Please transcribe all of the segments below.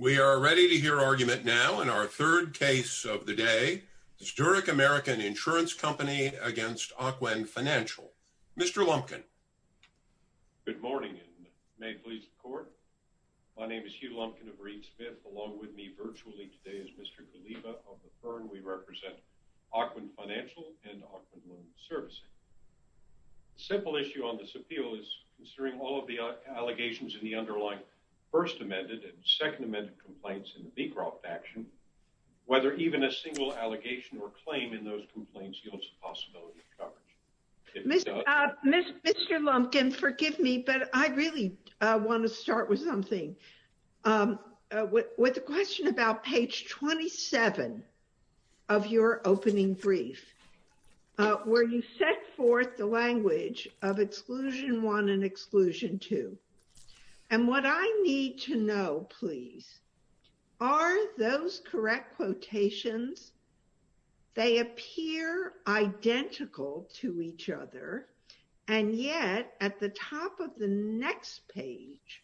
We are ready to hear argument now in our third case of the day, the Zurich American Insurance Company v. Ocwen Financial. Mr. Lumpkin. Good morning, and may it please the Court. My name is Hugh Lumpkin of Reed Smith. Along with me virtually today is Mr. Ghaliba of the Fern. We represent Ocwen Financial and Ocwen Women's Servicing. The simple issue on this appeal is, considering all of the allegations in the underlying First Amendment complaints in the Beecroft Action, whether even a single allegation or claim in those complaints yields a possibility of coverage. Mr. Lumpkin, forgive me, but I really want to start with something. With the question about page 27 of your opening brief, where you set forth the language of exclusion one and exclusion two. And what I need to know, please, are those correct quotations? They appear identical to each other. And yet, at the top of the next page,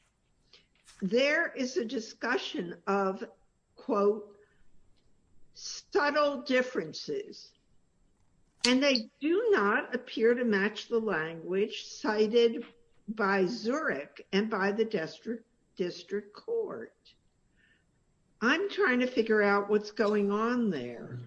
there is a discussion of, quote, subtle differences. And they do not appear to match the language cited by Zurich and by the district court. I'm trying to figure out what's going on there.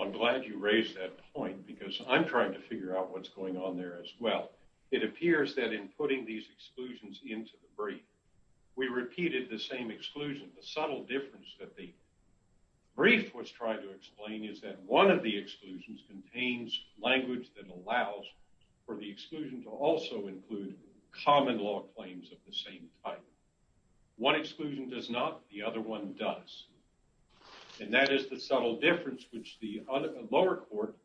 I'm glad you raised that point, because I'm trying to figure out what's going on there as well. It appears that in putting these exclusions into the brief, we repeated the same exclusion. The subtle difference that the brief was trying to explain is that one of the exclusions contains language that allows for the exclusion to also include common law claims of the same type. One exclusion does not, the other one does. And that is the subtle difference between what the district court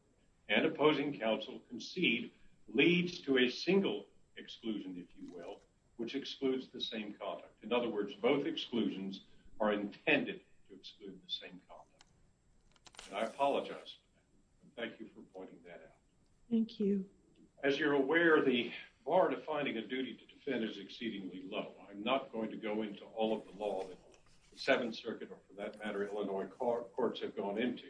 and opposing counsel concede leads to a single exclusion, if you will, which excludes the same conduct. In other words, both exclusions are intended to exclude the same conduct. And I apologize. Thank you for pointing that out. Thank you. As you're aware, the bar to finding a duty to defend is exceedingly low. I'm not going to go into all of the law that the Seventh Circuit or, for that matter, Illinois courts have gone into.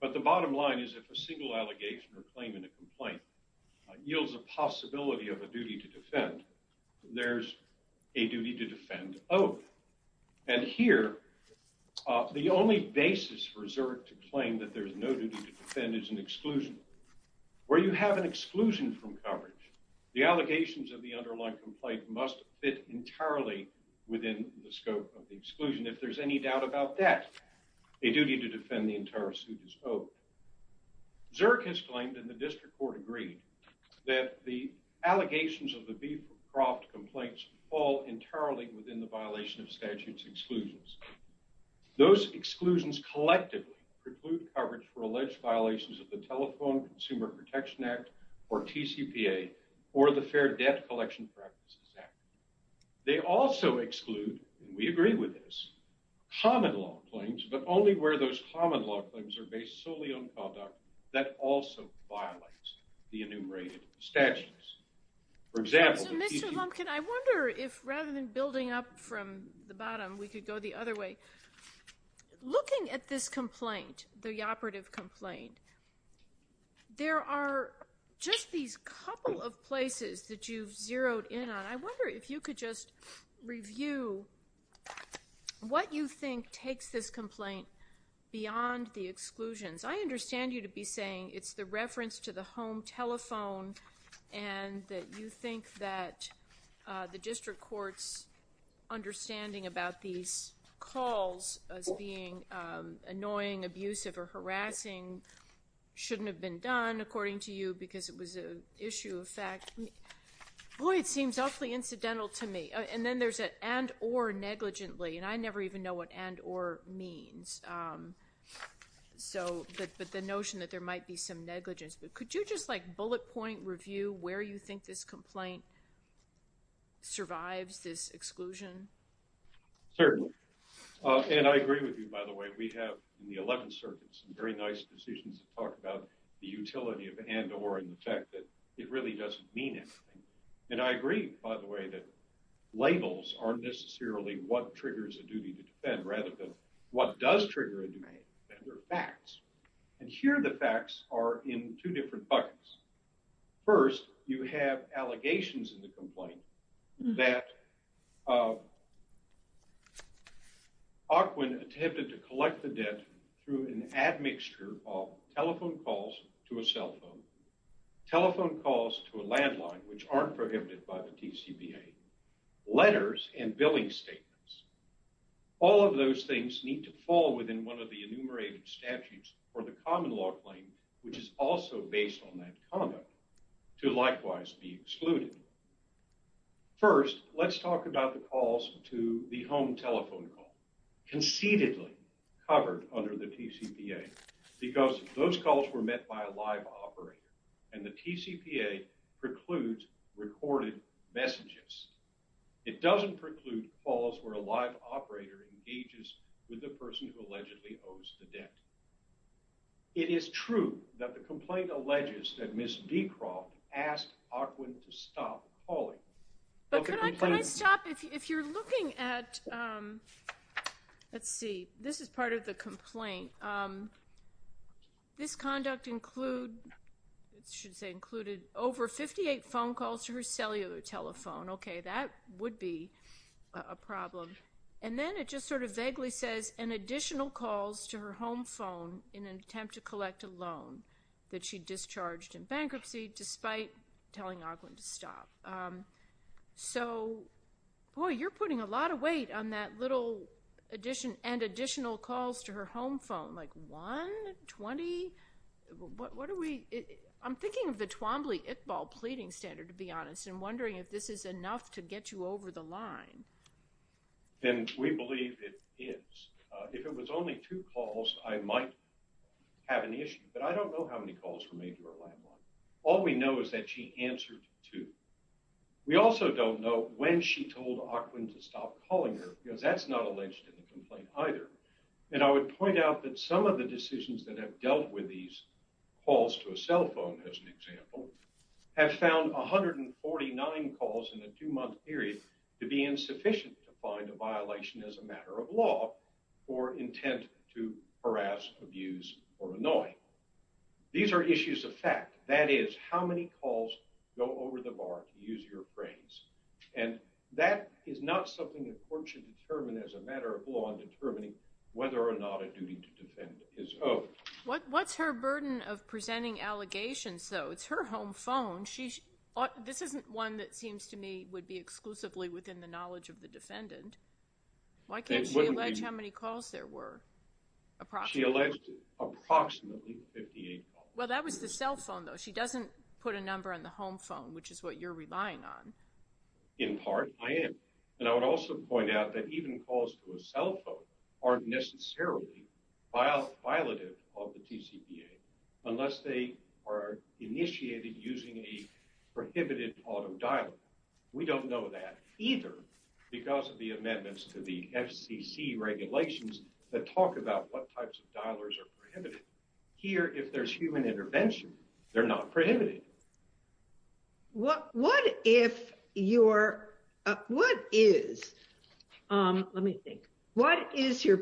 But the bottom line is, if a single allegation or claim in a complaint yields a possibility of a duty to defend, there's a duty to defend oath. And here, the only basis for Zurich to claim that there's no duty to defend is an exclusion. Where you have an exclusion from coverage, the allegations of the underlying complaint must fit entirely within the scope of the exclusion. If there's any doubt about that, a duty to defend the entire suit is owed. Zurich has claimed, and the district court agreed, that the allegations of the Beecroft complaints fall entirely within the violation of statute's exclusions. Those exclusions collectively preclude coverage for alleged violations of the Telephone Consumer Protection Act or TCPA or the Telephone Consumer Protection Act. They also exclude, and we agree with this, common law claims, but only where those common law claims are based solely on conduct that also violates the enumerated statutes. So, Mr. Lumpkin, I wonder if, rather than building up from the bottom, we could go the other way. Looking at this complaint, the operative complaint, there are just these couple of places that you've zeroed in on. I wonder if you could just review what you think takes this complaint beyond the exclusions. I understand you to be saying it's the reference to the home telephone and that you think that the district court's understanding about these calls as being annoying, abusive, or harassing shouldn't have been done, according to you, because it was an issue of fact. Boy, it seems awfully incidental to me. And then there's an and or negligently, and I never even know what and or means. So, but the notion that there might be some negligence, but could you just like bullet point review where you think this complaint survives this exclusion? Certainly. And I agree with you, by the way. We have in the 11th Circuit some very nice decisions that talk about the utility of and or and the fact that it really doesn't mean anything. And I agree, by the way, that labels aren't necessarily what triggers a duty to defend, rather than what does trigger a duty to defend. They're facts. And here the facts are in two different buckets. First, you have allegations in the complaint that Ocwen attempted to collect the debt through an admixture of telephone calls to a cell phone, telephone calls to a landline, which aren't prohibited by the TCPA, letters and billing statements. All of those things need to fall within one of the enumerated statutes for the common law claim, which is also based on that comment to likewise be excluded. First, let's talk about the calls to the home telephone call, concededly covered under the TCPA, because those calls were met by a live operator, and the TCPA precludes recorded messages. It doesn't preclude calls where a live operator engages with the person who allegedly owes the debt. It is true that the complaint alleges that Ms. Beecroft asked Ocwen to stop calling. But can I stop? If you're looking at, let's see, this is part of the complaint. This conduct include, it should say included, over 58 phone calls to her cellular telephone. Okay, that would be a problem. And then it just sort of vaguely says, an additional calls to her home phone in an attempt to collect a loan that she discharged in bankruptcy, despite telling Ocwen to stop. So, boy, you're putting a lot of weight on that little addition, and additional calls to her home phone, like one, 20? What are we, I'm thinking of the Twombly-Iqbal pleading standard, to be honest, and wondering if this is enough to get you over the line. And we believe it is. If it was only two calls, I might have an issue, but I don't know how many calls were made to her landline. All we know is that she answered two. We also don't know when she told Ocwen to stop calling her, because that's not alleged in the complaint either. And I would point out that some of the decisions that have dealt with these calls to a cell phone, as an example, have found 149 calls in a two-month period to be insufficient to find a violation as a matter of law, or intent to harass, abuse, or annoy. These are issues of fact. That is, how many calls go over the bar, to use your phrase. And that is not something the court should determine as a matter of law in determining whether or not a duty to defend is owed. What's her burden of presenting allegations, though? It's her home phone. This isn't one that seems to me would be exclusively within the knowledge of the defendant. Why can't she allege how many calls there were? She alleged approximately 58 calls. Well, that was the cell phone, though. She doesn't put a number on the home phone, which is what you're relying on. In part, I am. And I would also point out that even calls to a cell phone aren't necessarily violative of the TCPA unless they are initiated using a prohibited auto dialer. We don't know that either because of the amendments to the FCC regulations that talk about what types of dialers are prohibited. Here, if there's human intervention, they're not prohibited. What is your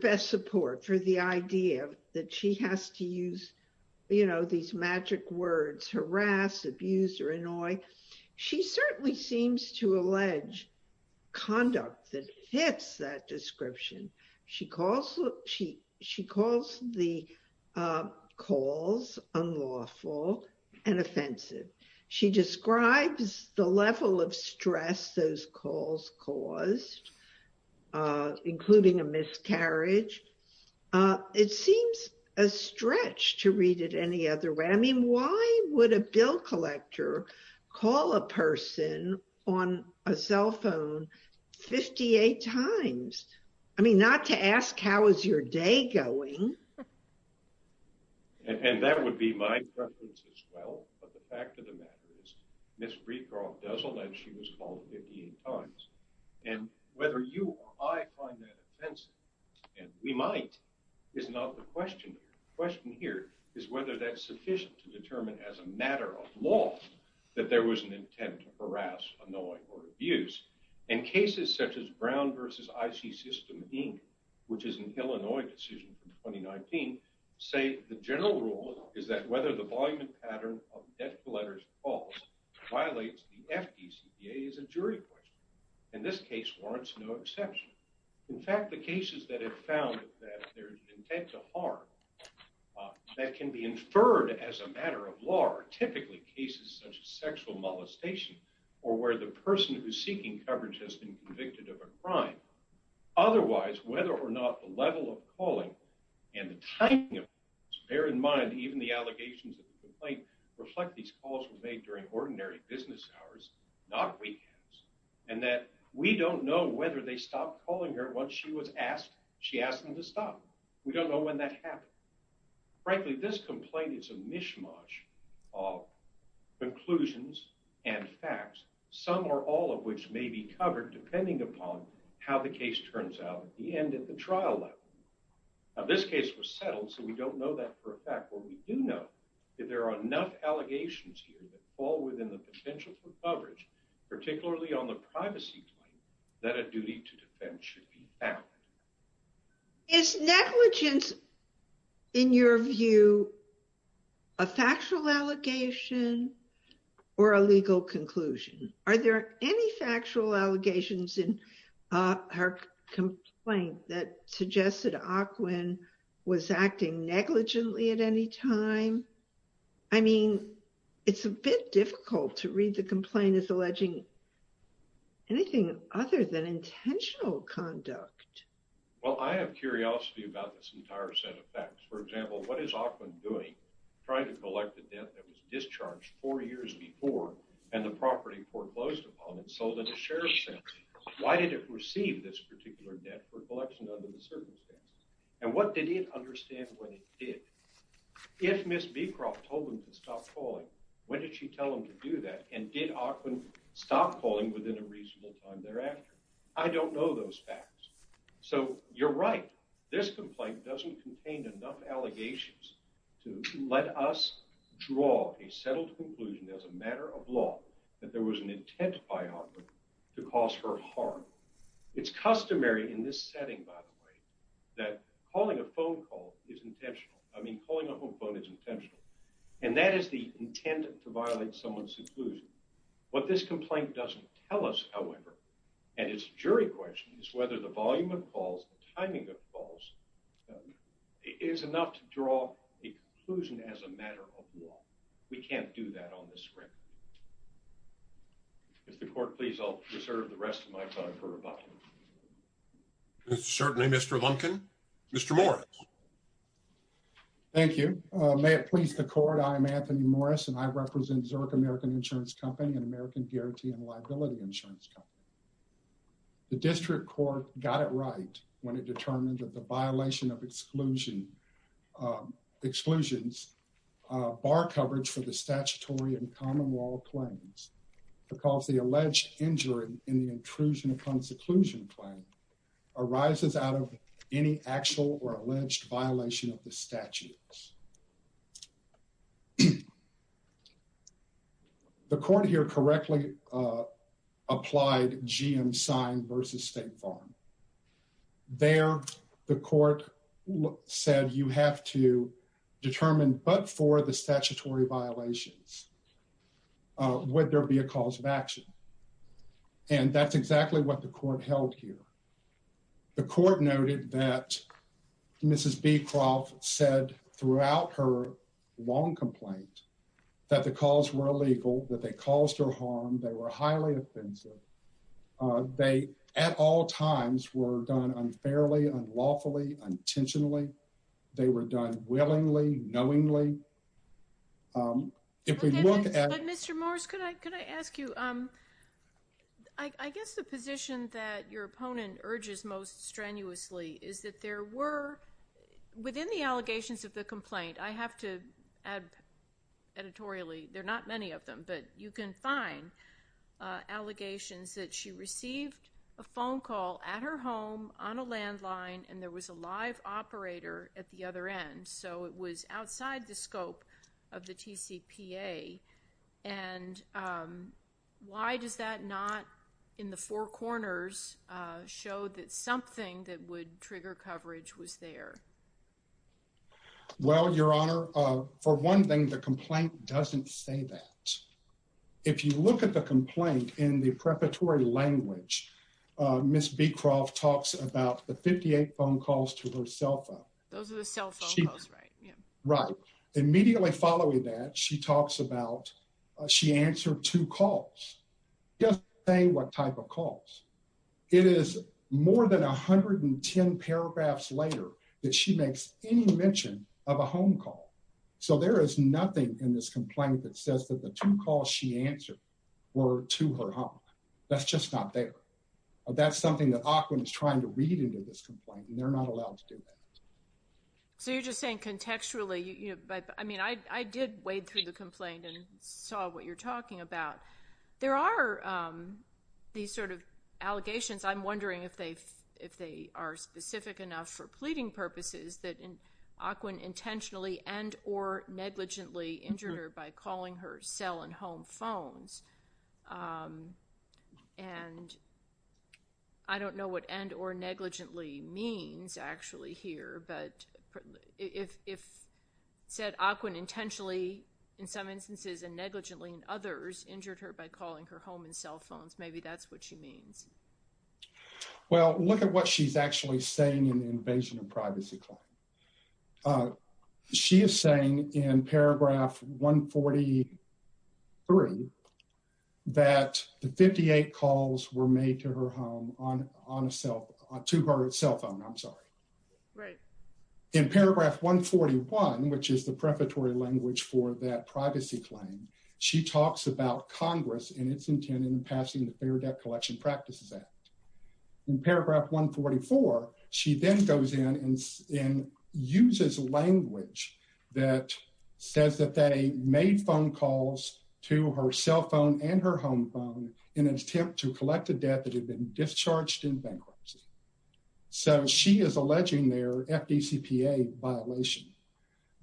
best support for the idea that she has to use these magic words, harass, abuse or annoy? She certainly seems to allege conduct that hits that description. She calls the calls unlawful and offensive. She describes the level of stress those calls caused, including a miscarriage. It seems a stretch to read it any other way. I mean, why would a bill collector call a person on a cell phone 58 times? I mean, not to ask, how is your day going? And that would be my preference as well. But the fact of the matter is, Ms. Breedcroft does allege she was called 58 times. And whether you or I find that offensive, and we might, is not the question here. The question here is whether that's sufficient to determine as a matter of law that there was an intent to harass, annoy or abuse. And cases such as Brown v. IC System, Inc., which is an Illinois decision from 2019, say the general rule is that whether the volume and pattern of death letters are false violates the FDCPA as a jury question. And this case warrants no exception. In fact, the cases that have found that there's an intent to harm that can be inferred as a matter of law are typically cases such as sexual molestation or where the person who's seeking coverage has been convicted of a crime. Otherwise, whether or not the level of calling and the timing of it, bear in mind even the allegations of the complaint reflect these calls were made during ordinary business hours, not weekends. And that we don't know whether they stopped calling her once she was asked, she asked them to stop. We don't know when that happened. Frankly, this complaint is a mishmash of conclusions and facts, some or all of which may be covered depending upon how the case turns out at the end of the trial level. Now this case was settled so we don't know that for a fact, but we do know that there are enough allegations here that fall within the potential for coverage, particularly on the privacy claim, that a duty to defend should be valid. Is negligence, in your view, a factual allegation or a legal conclusion? Are there any factual allegations in her complaint that suggests that Ockwin was acting negligently at any time? I mean, it's a bit difficult to read the complaint as alleging anything other than intentional conduct. Well, I have curiosity about this entire set of facts. For example, what is Ockwin doing trying to collect the debt that was discharged four years before and the property foreclosed upon and sold in the sheriff's office? Why did it receive this particular debt for collection under the circumstances? And what did it understand when it did? If Ms. Beecroft told him to stop calling, when did she tell him to do that? And did Ockwin stop calling within a reasonable time thereafter? I don't know those facts. So you're right. This complaint doesn't contain enough allegations to let us draw a settled conclusion as a matter of law that there was an intent by Ockwin to cause her harm. It's customary in this setting, by the way, that calling a phone call is intentional. I mean, calling a home phone is intentional. And that is the intent to violate someone's inclusion. What this complaint doesn't tell us, however, and it's a jury question, is whether the volume of calls, the timing of calls, is enough to draw a conclusion as a matter of law. We can't do that on this record. If the court please, I'll reserve the rest of my time for rebuttal. Certainly, Mr. Lumpkin. Mr. Morris. Thank you. May it please the court, I am Anthony Morris, and I represent Zurich American Insurance Company, an American guarantee and liability insurance company. The district court got it right when it determined that the violation of exclusions bar coverage for the statutory and common law claims because the alleged injury in the intrusion upon seclusion claim arises out of any actual or alleged violation of the statutes. The court here correctly applied GM sign versus State Farm. There, the court said you have to determine but for the statutory violations, would there be a cause of action? And that's exactly what the court held here. The court noted that Mrs. Beecroft said throughout her long complaint that the calls were illegal, that they caused her harm. They were highly offensive. They, at all times, were done unfairly, unlawfully, intentionally. They were done willingly, knowingly. If we look at. Mr. Morris, could I ask you, I guess the position that your opponent urges most strenuously is that there were, within the allegations of the complaint, I have to add editorially. There are not many of them, but you can find allegations that she received a phone call at her home on a landline and there was a live operator at the other end. So it was outside the scope of the T.C.P.A. And why does that not in the four corners show that something that would trigger coverage was there? Well, Your Honor, for one thing, the complaint doesn't say that. If you look at the complaint in the preparatory language, Miss Beecroft talks about the 58 phone calls to herself. Those are the cell phones, right? Right. Immediately following that, she talks about she answered two calls. Just say what type of calls. It is more than 110 paragraphs later that she makes any mention of a home call. So there is nothing in this complaint that says that the two calls she answered were to her home. That's just not there. That's something that Ocwen is trying to read into this complaint, and they're not allowed to do that. So you're just saying contextually, but I mean, I did wade through the complaint and saw what you're talking about. There are these sort of allegations. I'm wondering if they are specific enough for pleading purposes that Ocwen intentionally and or negligently injured her by calling her cell and home phones. And I don't know what and or negligently means actually here. But if said Ocwen intentionally in some instances and negligently in others injured her by calling her home and cell phones, maybe that's what she means. Well, look at what she's actually saying in the invasion of privacy claim. She is saying in paragraph 143 that the 58 calls were made to her home on a cell to her cell phone. I'm sorry. Right. In paragraph 141, which is the preparatory language for that privacy claim. She talks about Congress and its intent in passing the Fair Debt Collection Practices Act. In paragraph 144, she then goes in and uses language that says that they made phone calls to her cell phone and her home phone in an attempt to collect a debt that had been discharged in bankruptcy. So she is alleging their FDCPA violation.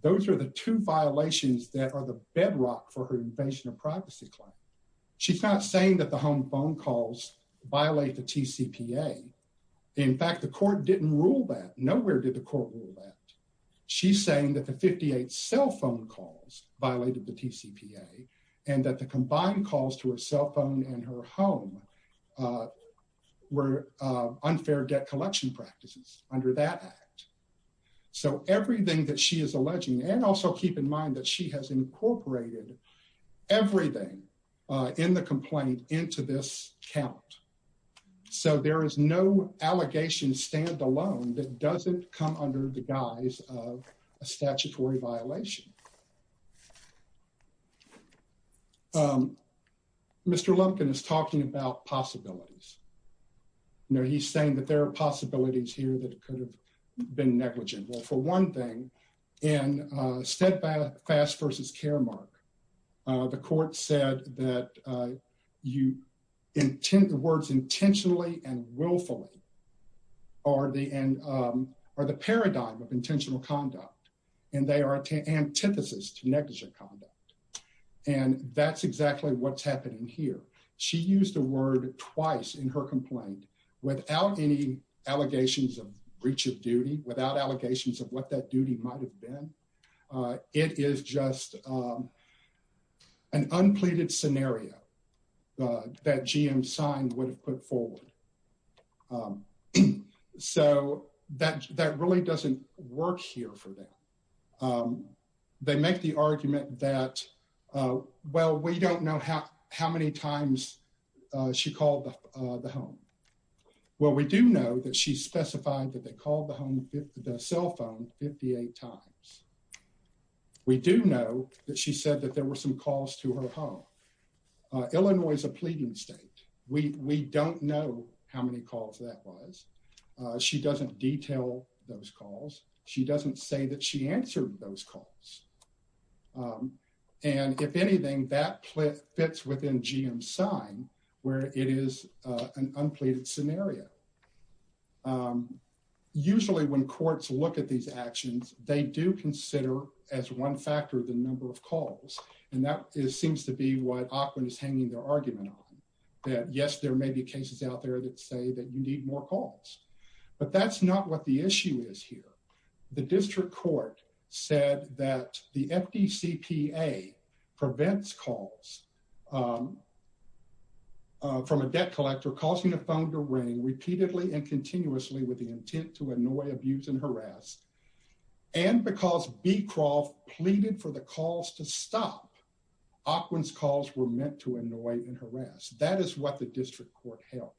Those are the two violations that are the bedrock for her invasion of privacy claim. She's not saying that the home phone calls violate the TCPA. In fact, the court didn't rule that. Nowhere did the court rule that. She's saying that the 58 cell phone calls violated the TCPA and that the combined calls to her cell phone and her home were unfair debt collection practices under that act. So everything that she is alleging and also keep in mind that she has incorporated everything in the complaint into this count. So there is no allegation stand alone that doesn't come under the guise of a statutory violation. Mr. Lumpkin is talking about possibilities. Now, he's saying that there are possibilities here that could have been negligent. Well, for one thing, in Step Fast versus Caremark, the court said that you intend the words intentionally and willfully are the end or the paradigm of intentional conduct. And they are antithesis to negligent conduct. And that's exactly what's happening here. She used the word twice in her complaint without any allegations of breach of duty, without allegations of what that duty might have been. It is just an unpleaded scenario that GM signed would have put forward. So that that really doesn't work here for them. They make the argument that, well, we don't know how many times she called the home. Well, we do know that she specified that they called the home, the cell phone 58 times. We do know that she said that there were some calls to her home. Illinois is a pleading state. We don't know how many calls that was. She doesn't detail those calls. She doesn't say that she answered those calls. And if anything, that fits within GM's sign, where it is an unpleaded scenario. Usually, when courts look at these actions, they do consider as one factor the number of calls. And that seems to be what ACWIN is hanging their argument on, that, yes, there may be cases out there that say that you need more calls. But that's not what the issue is here. The district court said that the FDCPA prevents calls from a debt collector causing a phone to ring repeatedly and continuously with the intent to annoy, abuse, and harass. And because Beecroft pleaded for the calls to stop, ACWIN's calls were meant to annoy and harass. That is what the district court held.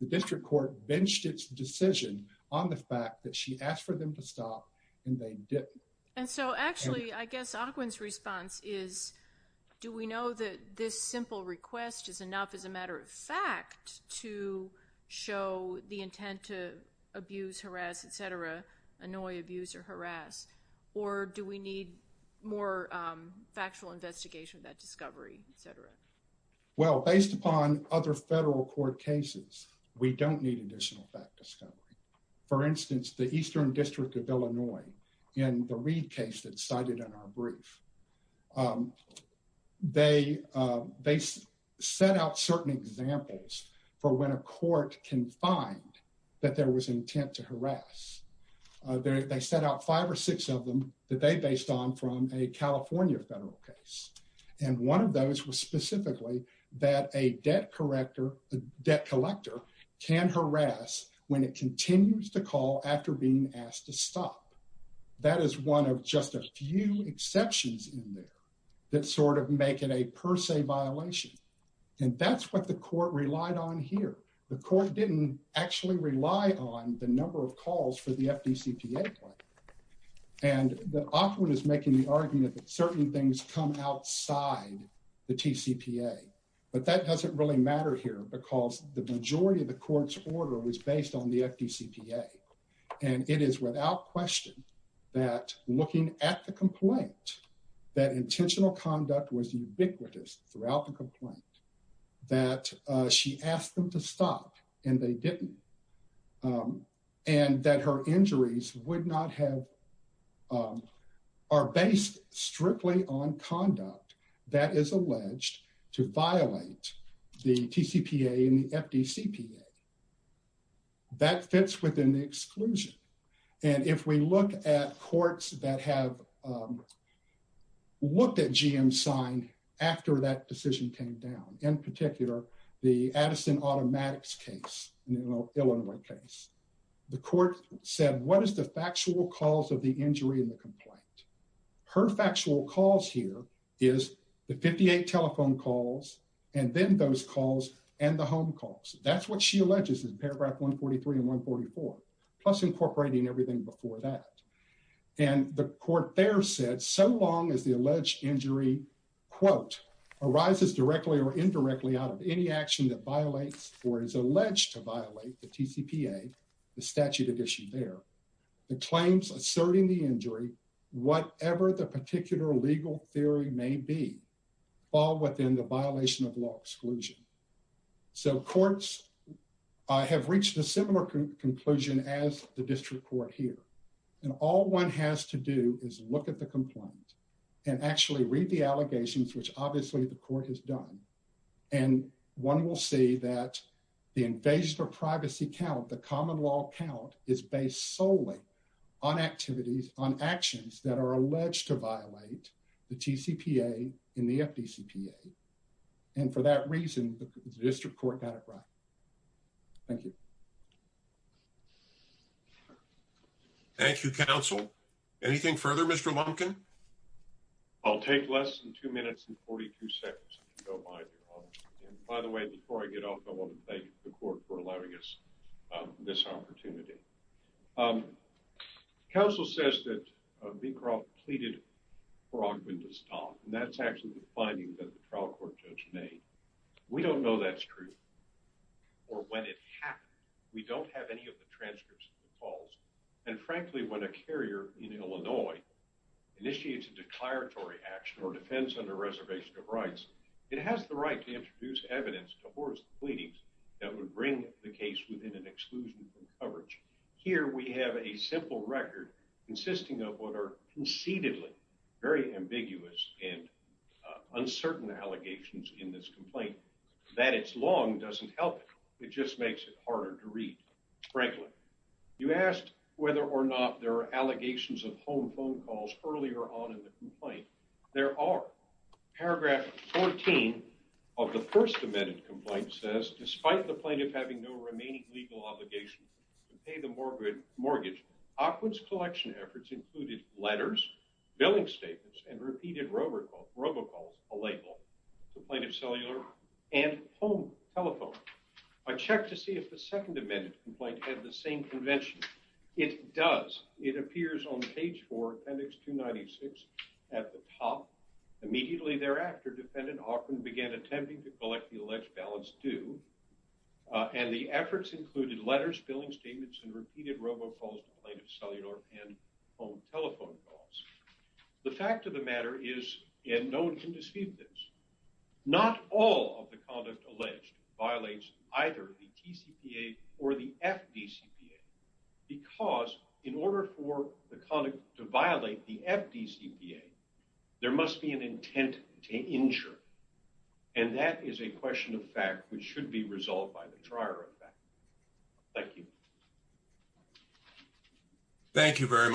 The district court benched its decision on the fact that she asked for them to stop, and they didn't. And so, actually, I guess ACWIN's response is, do we know that this simple request is enough as a matter of fact to show the intent to abuse, harass, et cetera, annoy, abuse, or harass? Or do we need more factual investigation of that discovery, et cetera? Well, based upon other federal court cases, we don't need additional fact discovery. For instance, the Eastern District of Illinois, in the Reid case that's cited in our brief, they set out certain examples for when a court can find that there was intent to harass. They set out five or six of them that they based on from a California federal case. And one of those was specifically that a debt collector can harass when it continues to call after being asked to stop. That is one of just a few exceptions in there that sort of make it a per se violation. And that's what the court relied on here. The court didn't actually rely on the number of calls for the FDCPA claim. And ACWIN is making the argument that certain things come outside the TCPA. But that doesn't really matter here because the majority of the court's order was based on the FDCPA. And it is without question that looking at the complaint, that intentional conduct was ubiquitous throughout the complaint. That she asked them to stop, and they didn't. And that her injuries are based strictly on conduct that is alleged to violate the TCPA and the FDCPA. That fits within the exclusion. And if we look at courts that have looked at GM signed after that decision came down, in particular, the Addison Automatics case, Illinois case, the court said, what is the factual cause of the injury in the complaint? Her factual cause here is the 58 telephone calls and then those calls and the home calls. That's what she alleges in paragraph 143 and 144, plus incorporating everything before that. And the court there said, so long as the alleged injury, quote, arises directly or indirectly out of any action that violates or is alleged to violate the TCPA, the statute addition there, the claims asserting the injury, whatever the particular legal theory may be, fall within the violation of law exclusion. So courts have reached a similar conclusion as the district court here. And all one has to do is look at the complaint and actually read the allegations, which obviously the court has done. And one will see that the invasion of privacy count, the common law count, is based solely on activities, on actions that are alleged to violate the TCPA and the FDCPA. And for that reason, the district court got it right. Thank you. Thank you, counsel. Anything further, Mr. Lumpkin? I'll take less than two minutes and 42 seconds. And by the way, before I get off, I want to thank the court for allowing us this opportunity. Counsel says that Beecroft pleaded for augmented stock. And that's actually the finding that the trial court judge made. We don't know that's true or when it happened. We don't have any of the transcripts of the calls. And frankly, when a carrier in Illinois initiates a declaratory action or defends under reservation of rights, it has the right to introduce evidence towards the pleadings that would bring the case within an exclusion from coverage. Here we have a simple record consisting of what are concededly very ambiguous and uncertain allegations in this complaint. That it's long doesn't help. It just makes it harder to read, frankly. You asked whether or not there are allegations of home phone calls earlier on in the complaint. There are. Paragraph 14 of the first amended complaint says, despite the plaintiff having no remaining legal obligation to pay the mortgage, Ockwood's collection efforts included letters, billing statements, and repeated robocalls, a label, to plaintiff's cellular and home telephone. I checked to see if the second amended complaint had the same convention. It does. It appears on page 4, appendix 296, at the top. Immediately thereafter, defendant Ockwood began attempting to collect the alleged balance due. And the efforts included letters, billing statements, and repeated robocalls to plaintiff's cellular and home telephone calls. The fact of the matter is, and no one can deceive this, not all of the conduct alleged violates either the TCPA or the FDCPA. Because in order for the conduct to violate the FDCPA, there must be an intent to injure. And that is a question of fact which should be resolved by the trier of that. Thank you very much.